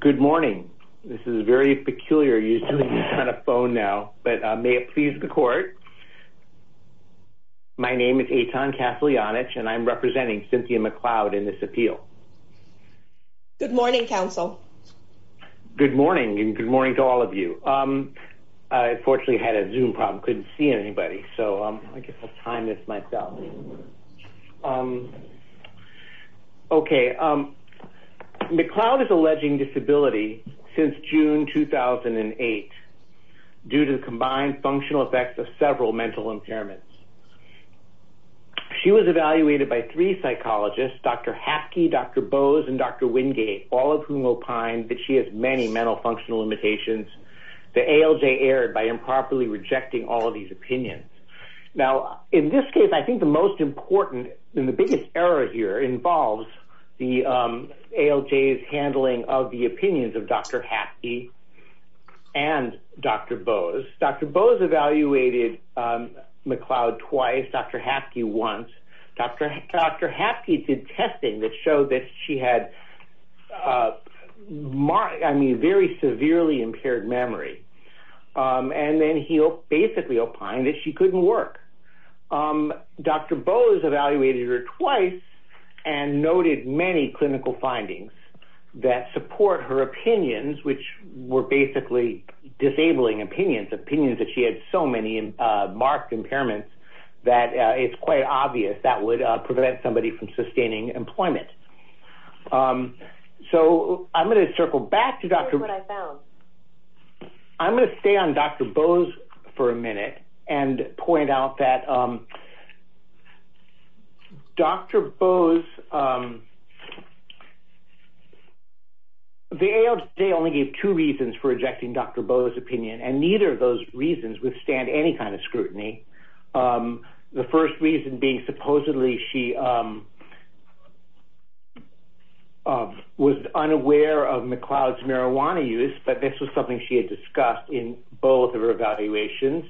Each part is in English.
Good morning. This is very peculiar. You're on a phone now, but may it please the court. My name is Eitan Kaslyanich and I'm representing Cynthia McCloud in this appeal. Good morning, counsel. Good morning and good morning to all of you. I unfortunately had a Zoom problem, couldn't see anybody, so I guess I'll time this myself. Okay. McCloud is alleging disability since June 2008 due to the combined functional effects of several mental impairments. She was evaluated by three psychologists, Dr. Hapke, Dr. Bose, and Dr. Wingate, all of whom opined that she has many mental functional limitations. The ALJ erred by improperly rejecting all of these opinions. Now, in this case, I think the most important and the biggest error here involves the ALJ's handling of the opinions of Dr. Hapke and Dr. Bose. Dr. Bose evaluated McCloud twice, Dr. Hapke once. Dr. Hapke did testing that showed that she had, I mean, very severely impaired memory. And then he basically opined that she couldn't work. Dr. Bose evaluated her twice and noted many clinical findings that support her opinions, which were basically disabling opinions, opinions that she had so many marked impairments that it's quite obvious that would prevent somebody from sustaining employment. So I'm going to circle back to Dr. Hapke. I'm going to stay on Dr. Bose for a minute and point out that Dr. Bose, the ALJ only gave two reasons for rejecting Dr. Bose's opinion, and neither of those reasons withstand any kind of scrutiny. The first reason being supposedly she was unaware of McCloud's marijuana use, but this was something she had discussed in both of her evaluations.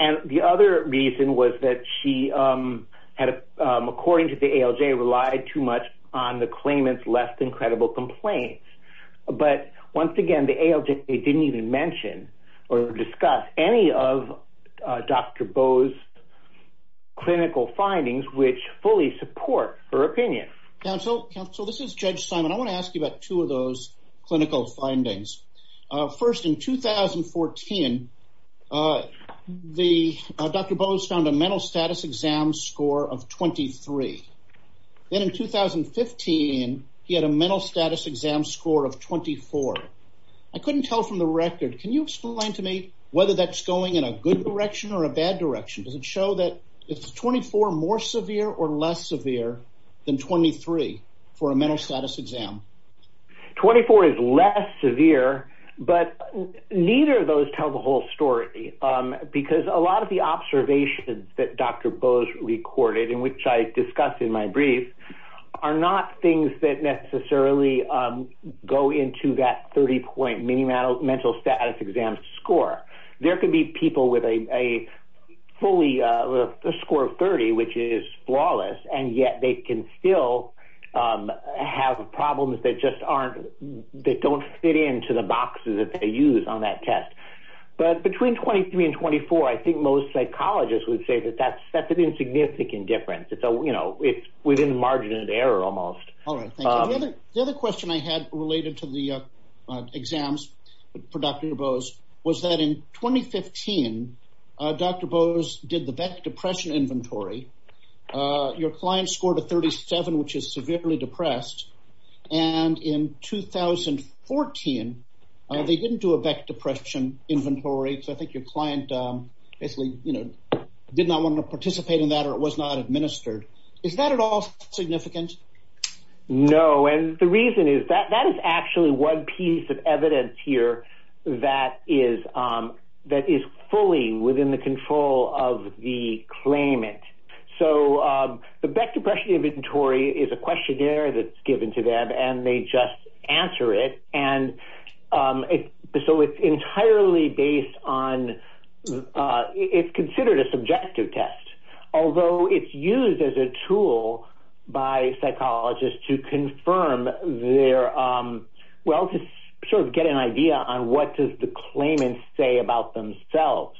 And the other reason was that she had, according to the ALJ, relied too much on the claimants' less than credible complaints. But once again, the ALJ didn't even mention or discuss any of Dr. Bose's clinical findings which fully support her opinion. Counsel, this is Judge Simon. I want to ask you about two of those clinical findings. First, in 2014, Dr. Bose found a mental status exam score of 23. Then in 2015, he had a mental status exam score of 24. I couldn't tell from the record. Can you explain to me whether that's going in a good direction or a bad direction? Does it show that it's 24 more severe or less severe than 23 for a mental status exam? 24 is less severe, but neither of those tell the whole story because a lot of the observations that Dr. Bose recorded and which I discussed in my brief are not things that necessarily go into that 30-point mental status exam score. There could be people with a score of 30, which is flawless, and yet they can still have problems that don't fit into the boxes that they use on that test. But between 23 and 24, I think most psychologists would say that that's an insignificant difference. It's within the margin of error almost. The other question I had related to the exams for Dr. Bose was that in 2015, Dr. Bose did the Beck Depression Inventory. Your client scored a 37, which is severely depressed. In 2014, they didn't do a Beck Depression Inventory. I think your client basically did not want to know. The reason is that that is actually one piece of evidence here that is fully within the control of the claimant. The Beck Depression Inventory is a questionnaire that's given to them and they just answer it. It's considered a subjective test, although it's used as a tool by psychologists to get an idea on what does the claimant say about themselves.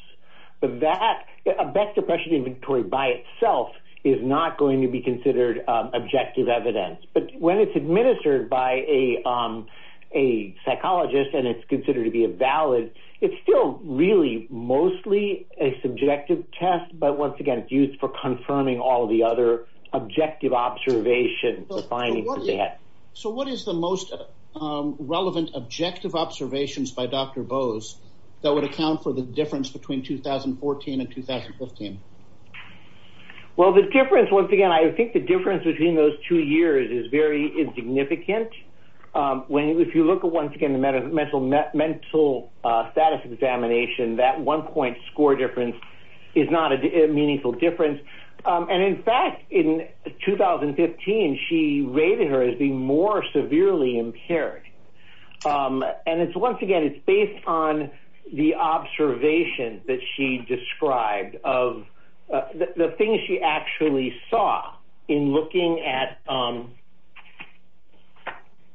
A Beck Depression Inventory by itself is not going to be considered objective evidence. But when it's administered by a psychologist and it's considered to be valid, it's still really mostly a subjective test. But once again, it's used for confirming all the other objective observations. So, what is the most relevant objective observations by Dr. Bose that would account for the difference between 2014 and 2015? Well, once again, I think the difference between those two years is very insignificant. When if you look at, once again, the mental status examination, that one point score difference is not a meaningful difference. And in fact, in 2015, she rated her as being more severely impaired. And it's, once again, it's based on the observation that she described of the things she actually saw in looking at,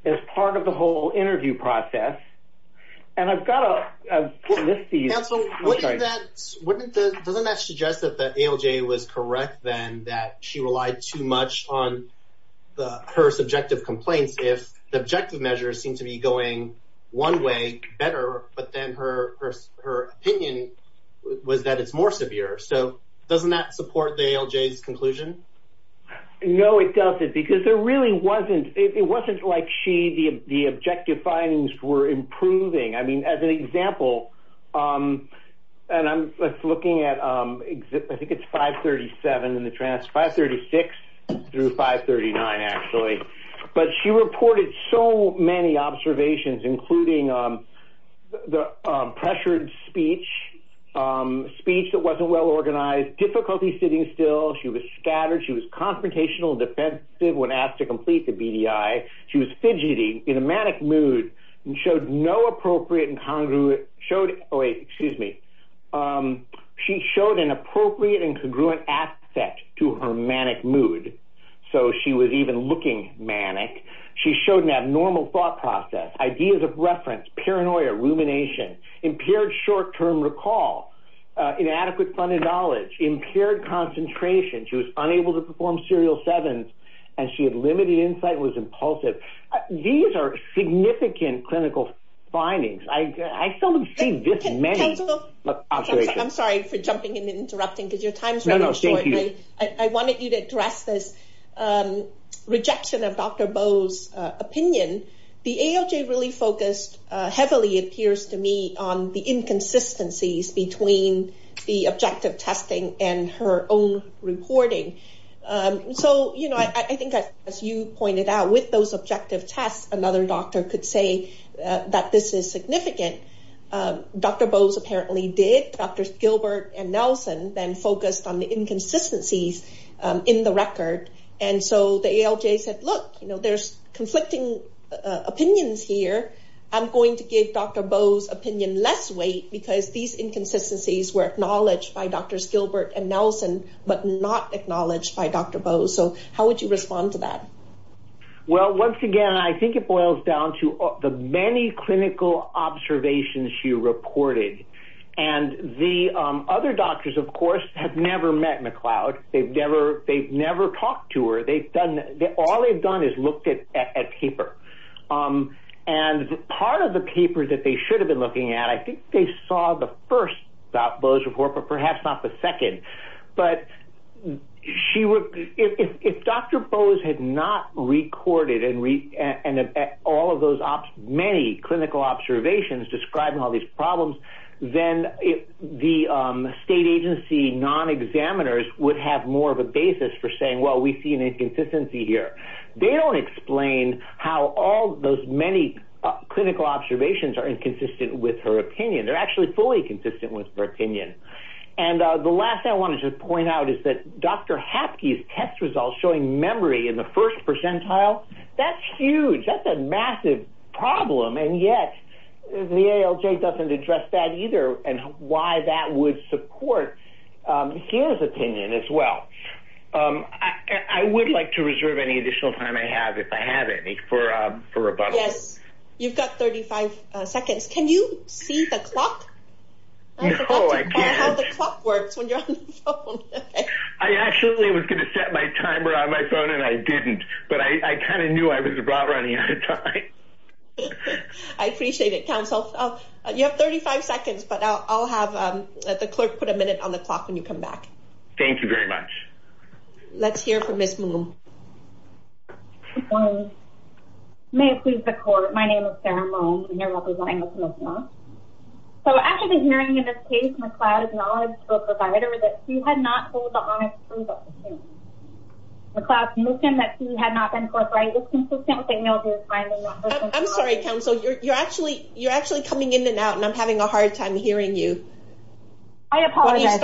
as part of the whole interview process. And I've got to list these. Counsel, wouldn't that, doesn't that suggest that the ALJ was correct then, that she relied too much on her subjective complaints if the objective measures seem to be going one way better, but then her opinion was that it's more severe. So, doesn't that support the ALJ's conclusion? No, it doesn't. Because there really wasn't, it wasn't like she, the objective findings were improving. I mean, as an example, and I'm looking at, I think it's 537 in the transcript, 536 through 539 actually. But she reported so many observations, including the pressured speech, speech that wasn't well organized, difficulty sitting still, she was scattered, she was confrontational, defensive when asked to complete the BDI. She was fidgeting in a manic mood and showed no appropriate and congruent, showed, oh wait, excuse me. She showed an appropriate and congruent aspect to her manic mood. So, she was even looking manic. She showed an abnormal thought process, ideas of reference, paranoia, rumination, impaired short-term recall, inadequate funded knowledge, impaired concentration, she was unable to perform serial sevens, and she had limited insight and was impulsive. These are significant clinical findings. I seldom see this many. I'm sorry for jumping in and interrupting because your time is running short. I wanted you to heavily, it appears to me, on the inconsistencies between the objective testing and her own reporting. So, you know, I think as you pointed out, with those objective tests, another doctor could say that this is significant. Dr. Bose apparently did. Drs. Gilbert and Nelson then focused on the inconsistencies in the record. And so, the ALJ said, look, you know, there's Dr. Bose's opinion less weight because these inconsistencies were acknowledged by Drs. Gilbert and Nelson, but not acknowledged by Dr. Bose. So, how would you respond to that? Well, once again, I think it boils down to the many clinical observations she reported. And the other doctors, of course, have never met McLeod. They've never talked to her. All they've done is looked at paper. And part of the paper that they should have been looking at, I think they saw the first Dr. Bose report, but perhaps not the second. But if Dr. Bose had not recorded and all of those many clinical observations describing all these problems, then the state agency non-examiners would have more of a basis for saying, well, we see an inconsistency here. They don't explain how all those many clinical observations are inconsistent with her opinion. They're actually fully consistent with her opinion. And the last thing I wanted to point out is that Dr. Hapke's test results showing memory in the first percentile, that's huge. That's a massive problem. And yet, the ALJ doesn't address that either and why that would support his opinion as well. I would like to reserve any additional time I have, if I have any, for rebuttal. Yes, you've got 35 seconds. Can you see the clock? No, I can't. I actually was going to set my timer on my phone and I didn't. But I kind of knew I was running out of time. I appreciate it, counsel. You have 35 seconds, but I'll have the clerk put a minute on the clock when you come back. Thank you very much. Let's hear from Ms. Moon. Good morning. May it please the court, my name is Sarah Moon. So after the hearing in this case, McLeod acknowledged to a provider that she had not been forthright. I'm sorry, counsel, you're actually coming in and out and I'm having a hard time hearing you. I apologize.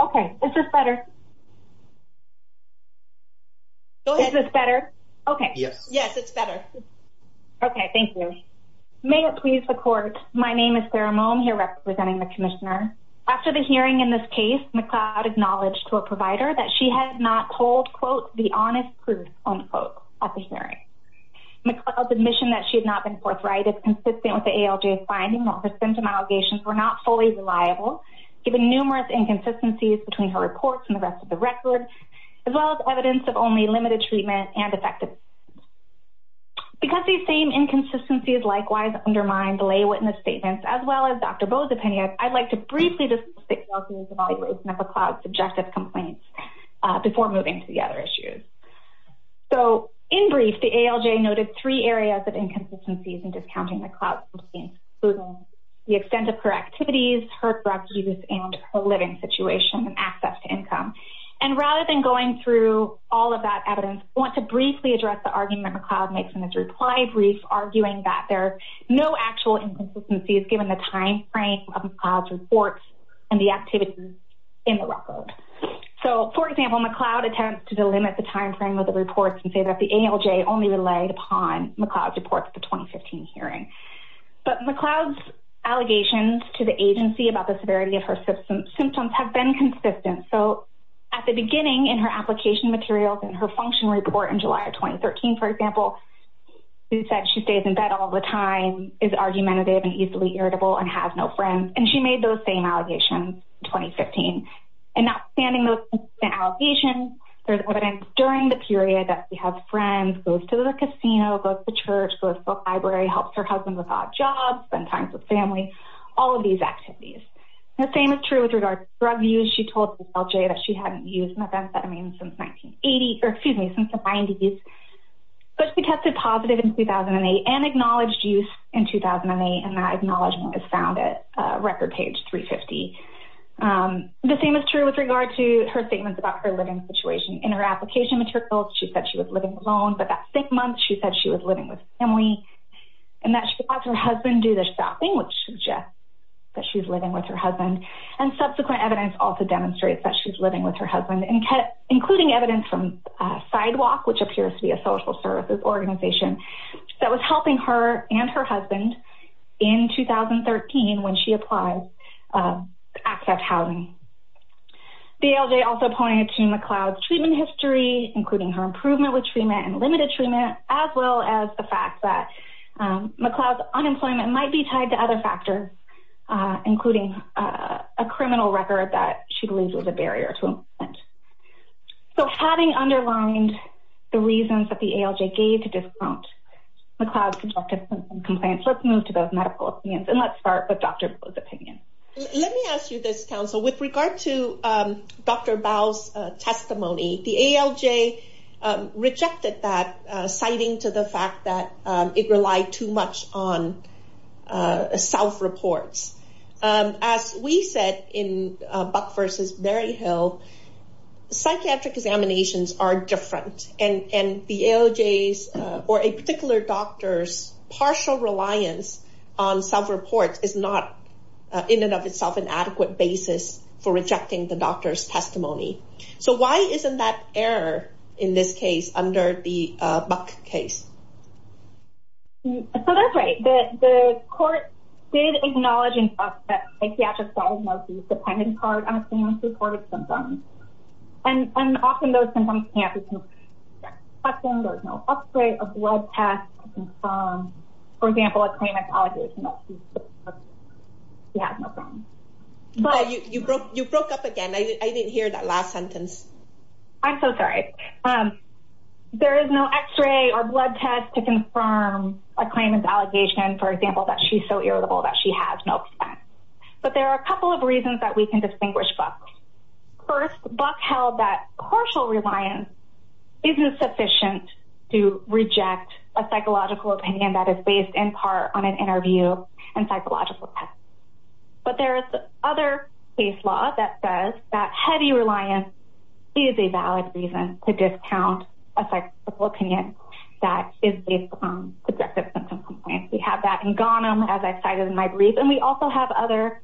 Okay, is this better? Go ahead. Is this better? Okay. Yes, it's better. Okay, thank you. May it please the court, my name is Sarah Moon, here representing the commissioner. After the hearing in this case, McLeod acknowledged to a provider that she had not told, quote, the honest proof, unquote, at the hearing. McLeod's admission that she had not been forthright is consistent with the ALJ's finding that her symptom allegations were not fully reliable, given numerous inconsistencies between her reports and the rest of the record, as well as evidence of only limited treatment and effective treatment. Because these same inconsistencies likewise undermine the lay of McLeod's subjective complaints before moving to the other issues. So in brief, the ALJ noted three areas of inconsistencies in discounting McLeod's substance abuse claims, the extent of her activities, her drug use, and her living situation and access to income. And rather than going through all of that evidence, I want to briefly address the argument McLeod makes in his reply brief, arguing that there are no actual inconsistencies given the timeframe of McLeod's reports and the activities in the record. So for example, McLeod attempts to delimit the timeframe of the reports and say that the ALJ only relied upon McLeod's reports at the 2015 hearing. But McLeod's allegations to the agency about the severity of her symptoms have been consistent. So at the beginning in her application materials and her function report in July of 2013, for example, she said she stays in bed all the time, is argumentative and easily irritable, and has no friends. And she made those same allegations in 2015. And not standing those consistent allegations, there's evidence during the period that she has friends, goes to the casino, goes to church, goes to the library, helps her husband with odd jobs, spends time with family, all of these activities. The same is true with regard to drug use. She told the ALJ that she hadn't used methamphetamine since 1980, or excuse me, she tested positive in 2008 and acknowledged use in 2008, and that acknowledgement was found at record page 350. The same is true with regard to her statements about her living situation. In her application materials, she said she was living alone, but that same month, she said she was living with family, and that she watched her husband do the shopping, which suggests that she's living with her husband. And subsequent evidence also demonstrates that she's living with her that was helping her and her husband in 2013 when she applied to accept housing. The ALJ also pointed to McLeod's treatment history, including her improvement with treatment and limited treatment, as well as the fact that McLeod's unemployment might be tied to other factors, including a criminal record that she believes was a barrier to employment. So having underlined the reasons that the ALJ gave to discount McLeod's conjectures and complaints, let's move to those medical opinions, and let's start with Dr. Bowe's opinion. Let me ask you this, counsel. With regard to Dr. Bowe's testimony, the ALJ rejected that, citing to the fact that it relied too much on self-reports. As we said in Buck v. Berryhill, psychiatric examinations are different, and the ALJ's, or a particular doctor's, partial reliance on self-reports is not, in and of itself, an adequate basis for rejecting the doctor's testimony. So why isn't that error in this case under the Buck case? So that's right. The court did acknowledge, in fact, that psychiatric diagnosis depended hard on a claimant's reported symptoms, and often those symptoms can't be confirmed. Often there's no x-ray or blood test to confirm, for example, a claimant's allegation that she has no symptoms. You broke up again. I didn't hear that last sentence. I'm so sorry. There is no x-ray or blood test to confirm a claimant's allegation, for example, that she's so irritable that she has no symptoms. But there are a couple of reasons that we can distinguish Buck. First, Buck held that partial reliance isn't sufficient to reject a psychological opinion that is based, in part, on an interview and psychological test. But there is other case law that says that heavy reliance is a valid reason to discount a psychological opinion that is based on subjective symptom complaint. We have that in Ghanem, as I cited in my brief, and we also have other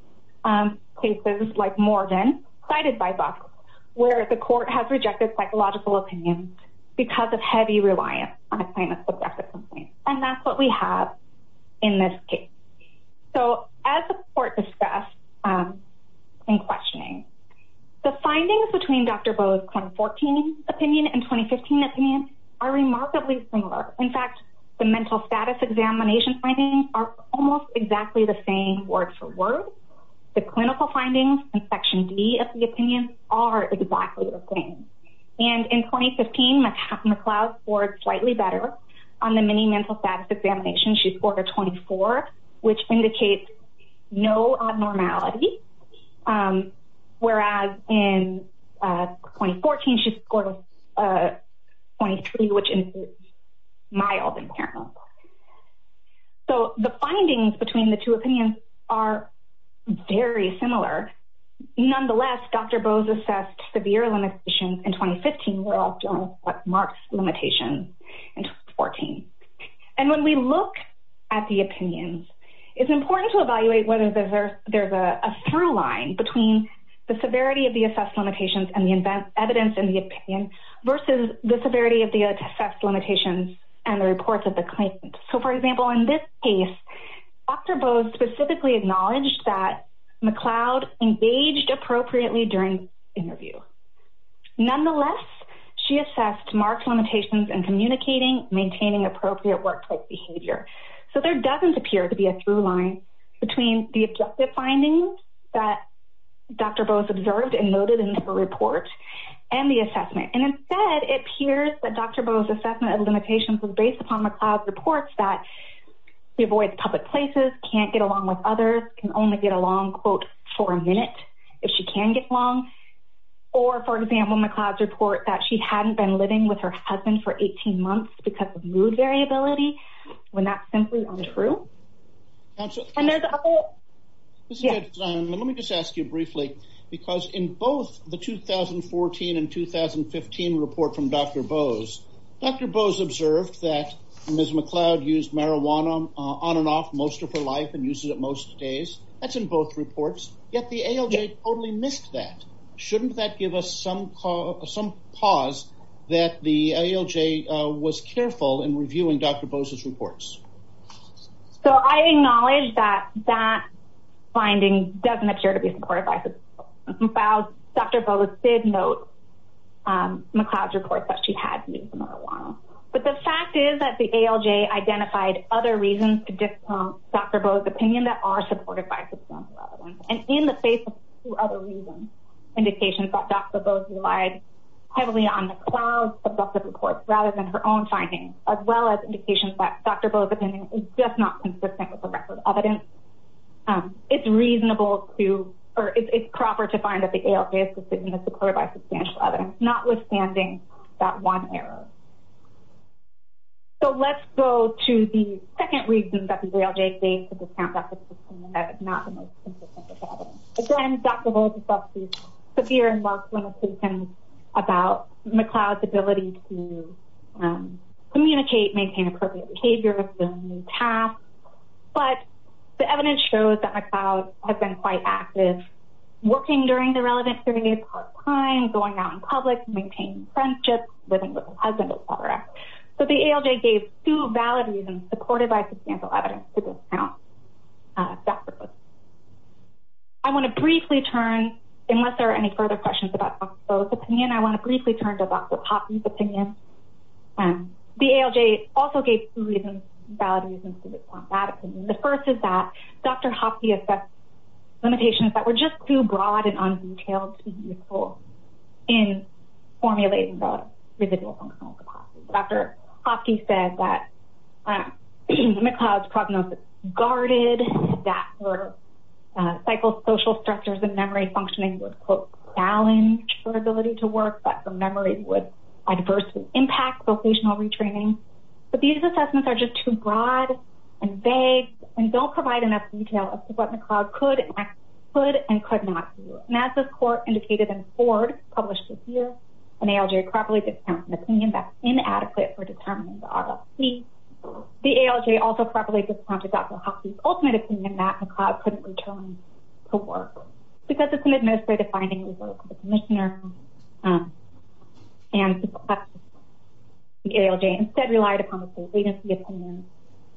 cases like Morgan, cited by Buck, where the court has rejected psychological opinions because of heavy reliance on a claimant's subjective complaint. And that's what we have in this case. So as the court discussed in questioning, the findings between Dr. Bowe's 2014 opinion and 2015 opinion are remarkably similar. In fact, the mental status examination findings are almost exactly the same word for word. The clinical findings in Section D of the opinion are exactly the same. And in 2015, McLeod scored slightly better on the mini mental status exam. In 2014, she scored a 23, which is mild impairment. So the findings between the two opinions are very similar. Nonetheless, Dr. Bowe's assessed severe limitations in 2015 were also marked limitations in 2014. And when we look at the opinions, it's important to evaluate whether there's a through line between the severity of the assessed limitations and the evidence in the opinion versus the severity of the assessed limitations and the reports of the claimant. So, for example, in this case, Dr. Bowe's specifically acknowledged that McLeod engaged appropriately during interview. Nonetheless, she assessed marked limitations in communicating, maintaining appropriate workplace behavior. So there doesn't appear to be a through that Dr. Bowe's observed and noted in her report and the assessment. And instead, it appears that Dr. Bowe's assessment of limitations was based upon McLeod's reports that she avoids public places, can't get along with others, can only get along, quote, for a minute if she can get along. Or, for example, McLeod's report that she hadn't been living with her husband for 18 months because of mood variability, when that's simply untrue. Let me just ask you briefly, because in both the 2014 and 2015 report from Dr. Bowe's, Dr. Bowe's observed that Ms. McLeod used marijuana on and off most of her life and uses it most days. That's in both reports. Yet, the ALJ totally missed that. Shouldn't that give some pause that the ALJ was careful in reviewing Dr. Bowe's reports? So, I acknowledge that that finding doesn't appear to be supported by Dr. Bowe's. Dr. Bowe did note McLeod's report that she had used marijuana. But the fact is that the ALJ identified other reasons to discount Dr. Bowe's opinion that are supported by Ms. McLeod. And in the face of two other reasons, indications that Dr. Bowe's relied heavily on McLeod's reports rather than her own findings, as well as indications that Dr. Bowe's opinion is just not consistent with the record of evidence, it's reasonable to, or it's proper to find that the ALJ's decision is supported by substantial evidence, notwithstanding that one error. So, let's go to the second reason that the ALJ could discount Dr. Bowe's opinion that is not the most consistent with evidence. Again, Dr. Bowe discussed these severe and large limitations about McLeod's ability to communicate, maintain appropriate behavior, fulfill new tasks. But the evidence shows that McLeod has been quite active working during the relevant 30 days of her time, going out in public, maintaining friendships, living with her husband, etc. So, the ALJ gave two valid reasons supported by substantial evidence to discount Dr. Bowe's opinion. I want to briefly turn, unless there are any further questions about Dr. Bowe's opinion, I want to briefly turn to Dr. Hopke's opinion. The ALJ also gave two valid reasons to discount that opinion. The first is that Dr. Hopke assessed limitations that were just too broad and un-detailed to be useful in formulating the residual functional capacity. Dr. Hopke said that McLeod's prognosis guarded, that her psychosocial structures and memory functioning would, quote, challenge her ability to work, that her memory would adversely impact vocational retraining. But these assessments are just too broad and vague and don't provide enough detail as to what McLeod could and could not do. And as this court indicated in Ford, published this year, an ALJ properly discounted an opinion that's inadequate for determining the RLC. The ALJ also properly discounted Dr. Hopke's ultimate opinion that McLeod couldn't return to work. Because it's an administrative finding, the commissioner and the ALJ instead relied upon the agency opinion,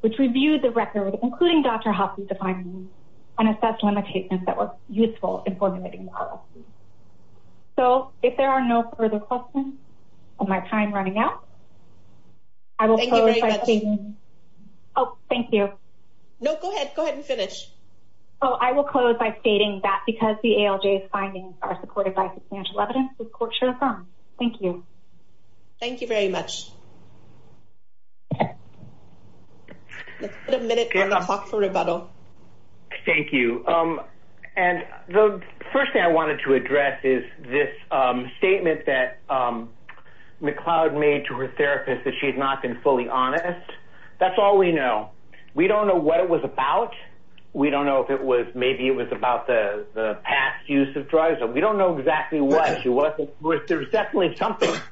which reviewed the record, including Dr. Hopke's defining and assessed limitations that were too broad and un-detailed to be useful in formulating the residual functional capacity. So I will close by stating that because the ALJ's findings are supported by substantial evidence, the court should affirm. Thank you. Thank you very much. Let's put a minute on the clock for rebuttal. Thank you. And the first thing I wanted to address is this statement that McLeod made to her therapist that she had not been fully honest. That's all we know. We don't know what it was about. We don't know if it was maybe it was about the past use of dry zone. We don't know exactly what. There's definitely something that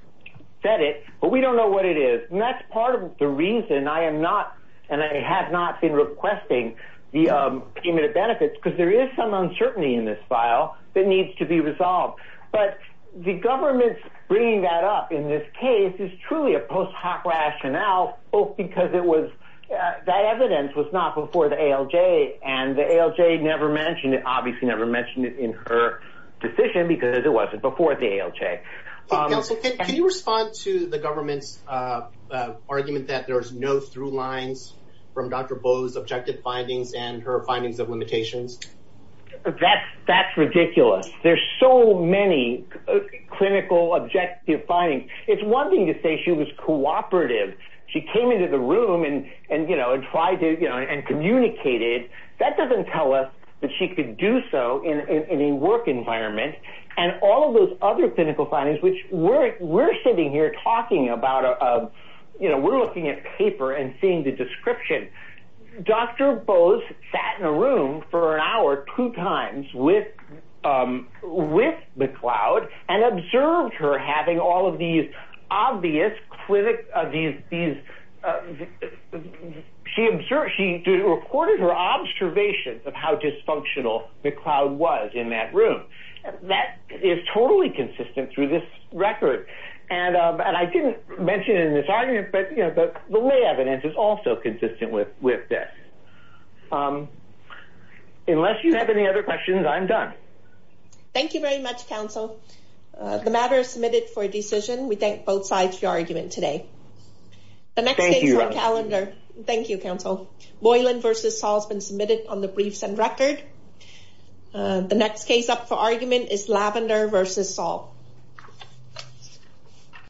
said it, but we don't know what it is. And that's part of the reason I am not and I have not been requesting the payment of benefits because there is some uncertainty in this file that needs to be resolved. But the government's bringing that up in this case is truly a post hoc rationale, both because it was that evidence was not before the ALJ and the ALJ never mentioned it, obviously never mentioned it in her decision because it wasn't before the ALJ. Can you respond to the government's argument that there's no through lines from Dr. Bow's objective findings and her findings of limitations? That's ridiculous. There's so many clinical objective findings. It's one thing to say she was cooperative. She came into the room and tried to and communicated. That doesn't tell us that she could do so in a work environment. And all of those other clinical findings, which we're sitting here talking about, we're looking at paper and seeing the description. Dr. Bow's sat in a room for an hour two times with McLeod and observed her having all of these obvious, she recorded her observations of how dysfunctional McLeod was in that room. That is totally consistent through this record. And I didn't mention it in this argument, but the lay evidence is also consistent with this. Unless you have any other questions, I'm done. Thank you very much, counsel. The matter is submitted for a decision. We thank both sides for your argument today. The next case on calendar. Thank you, counsel. Boylan versus Saul has been submitted on the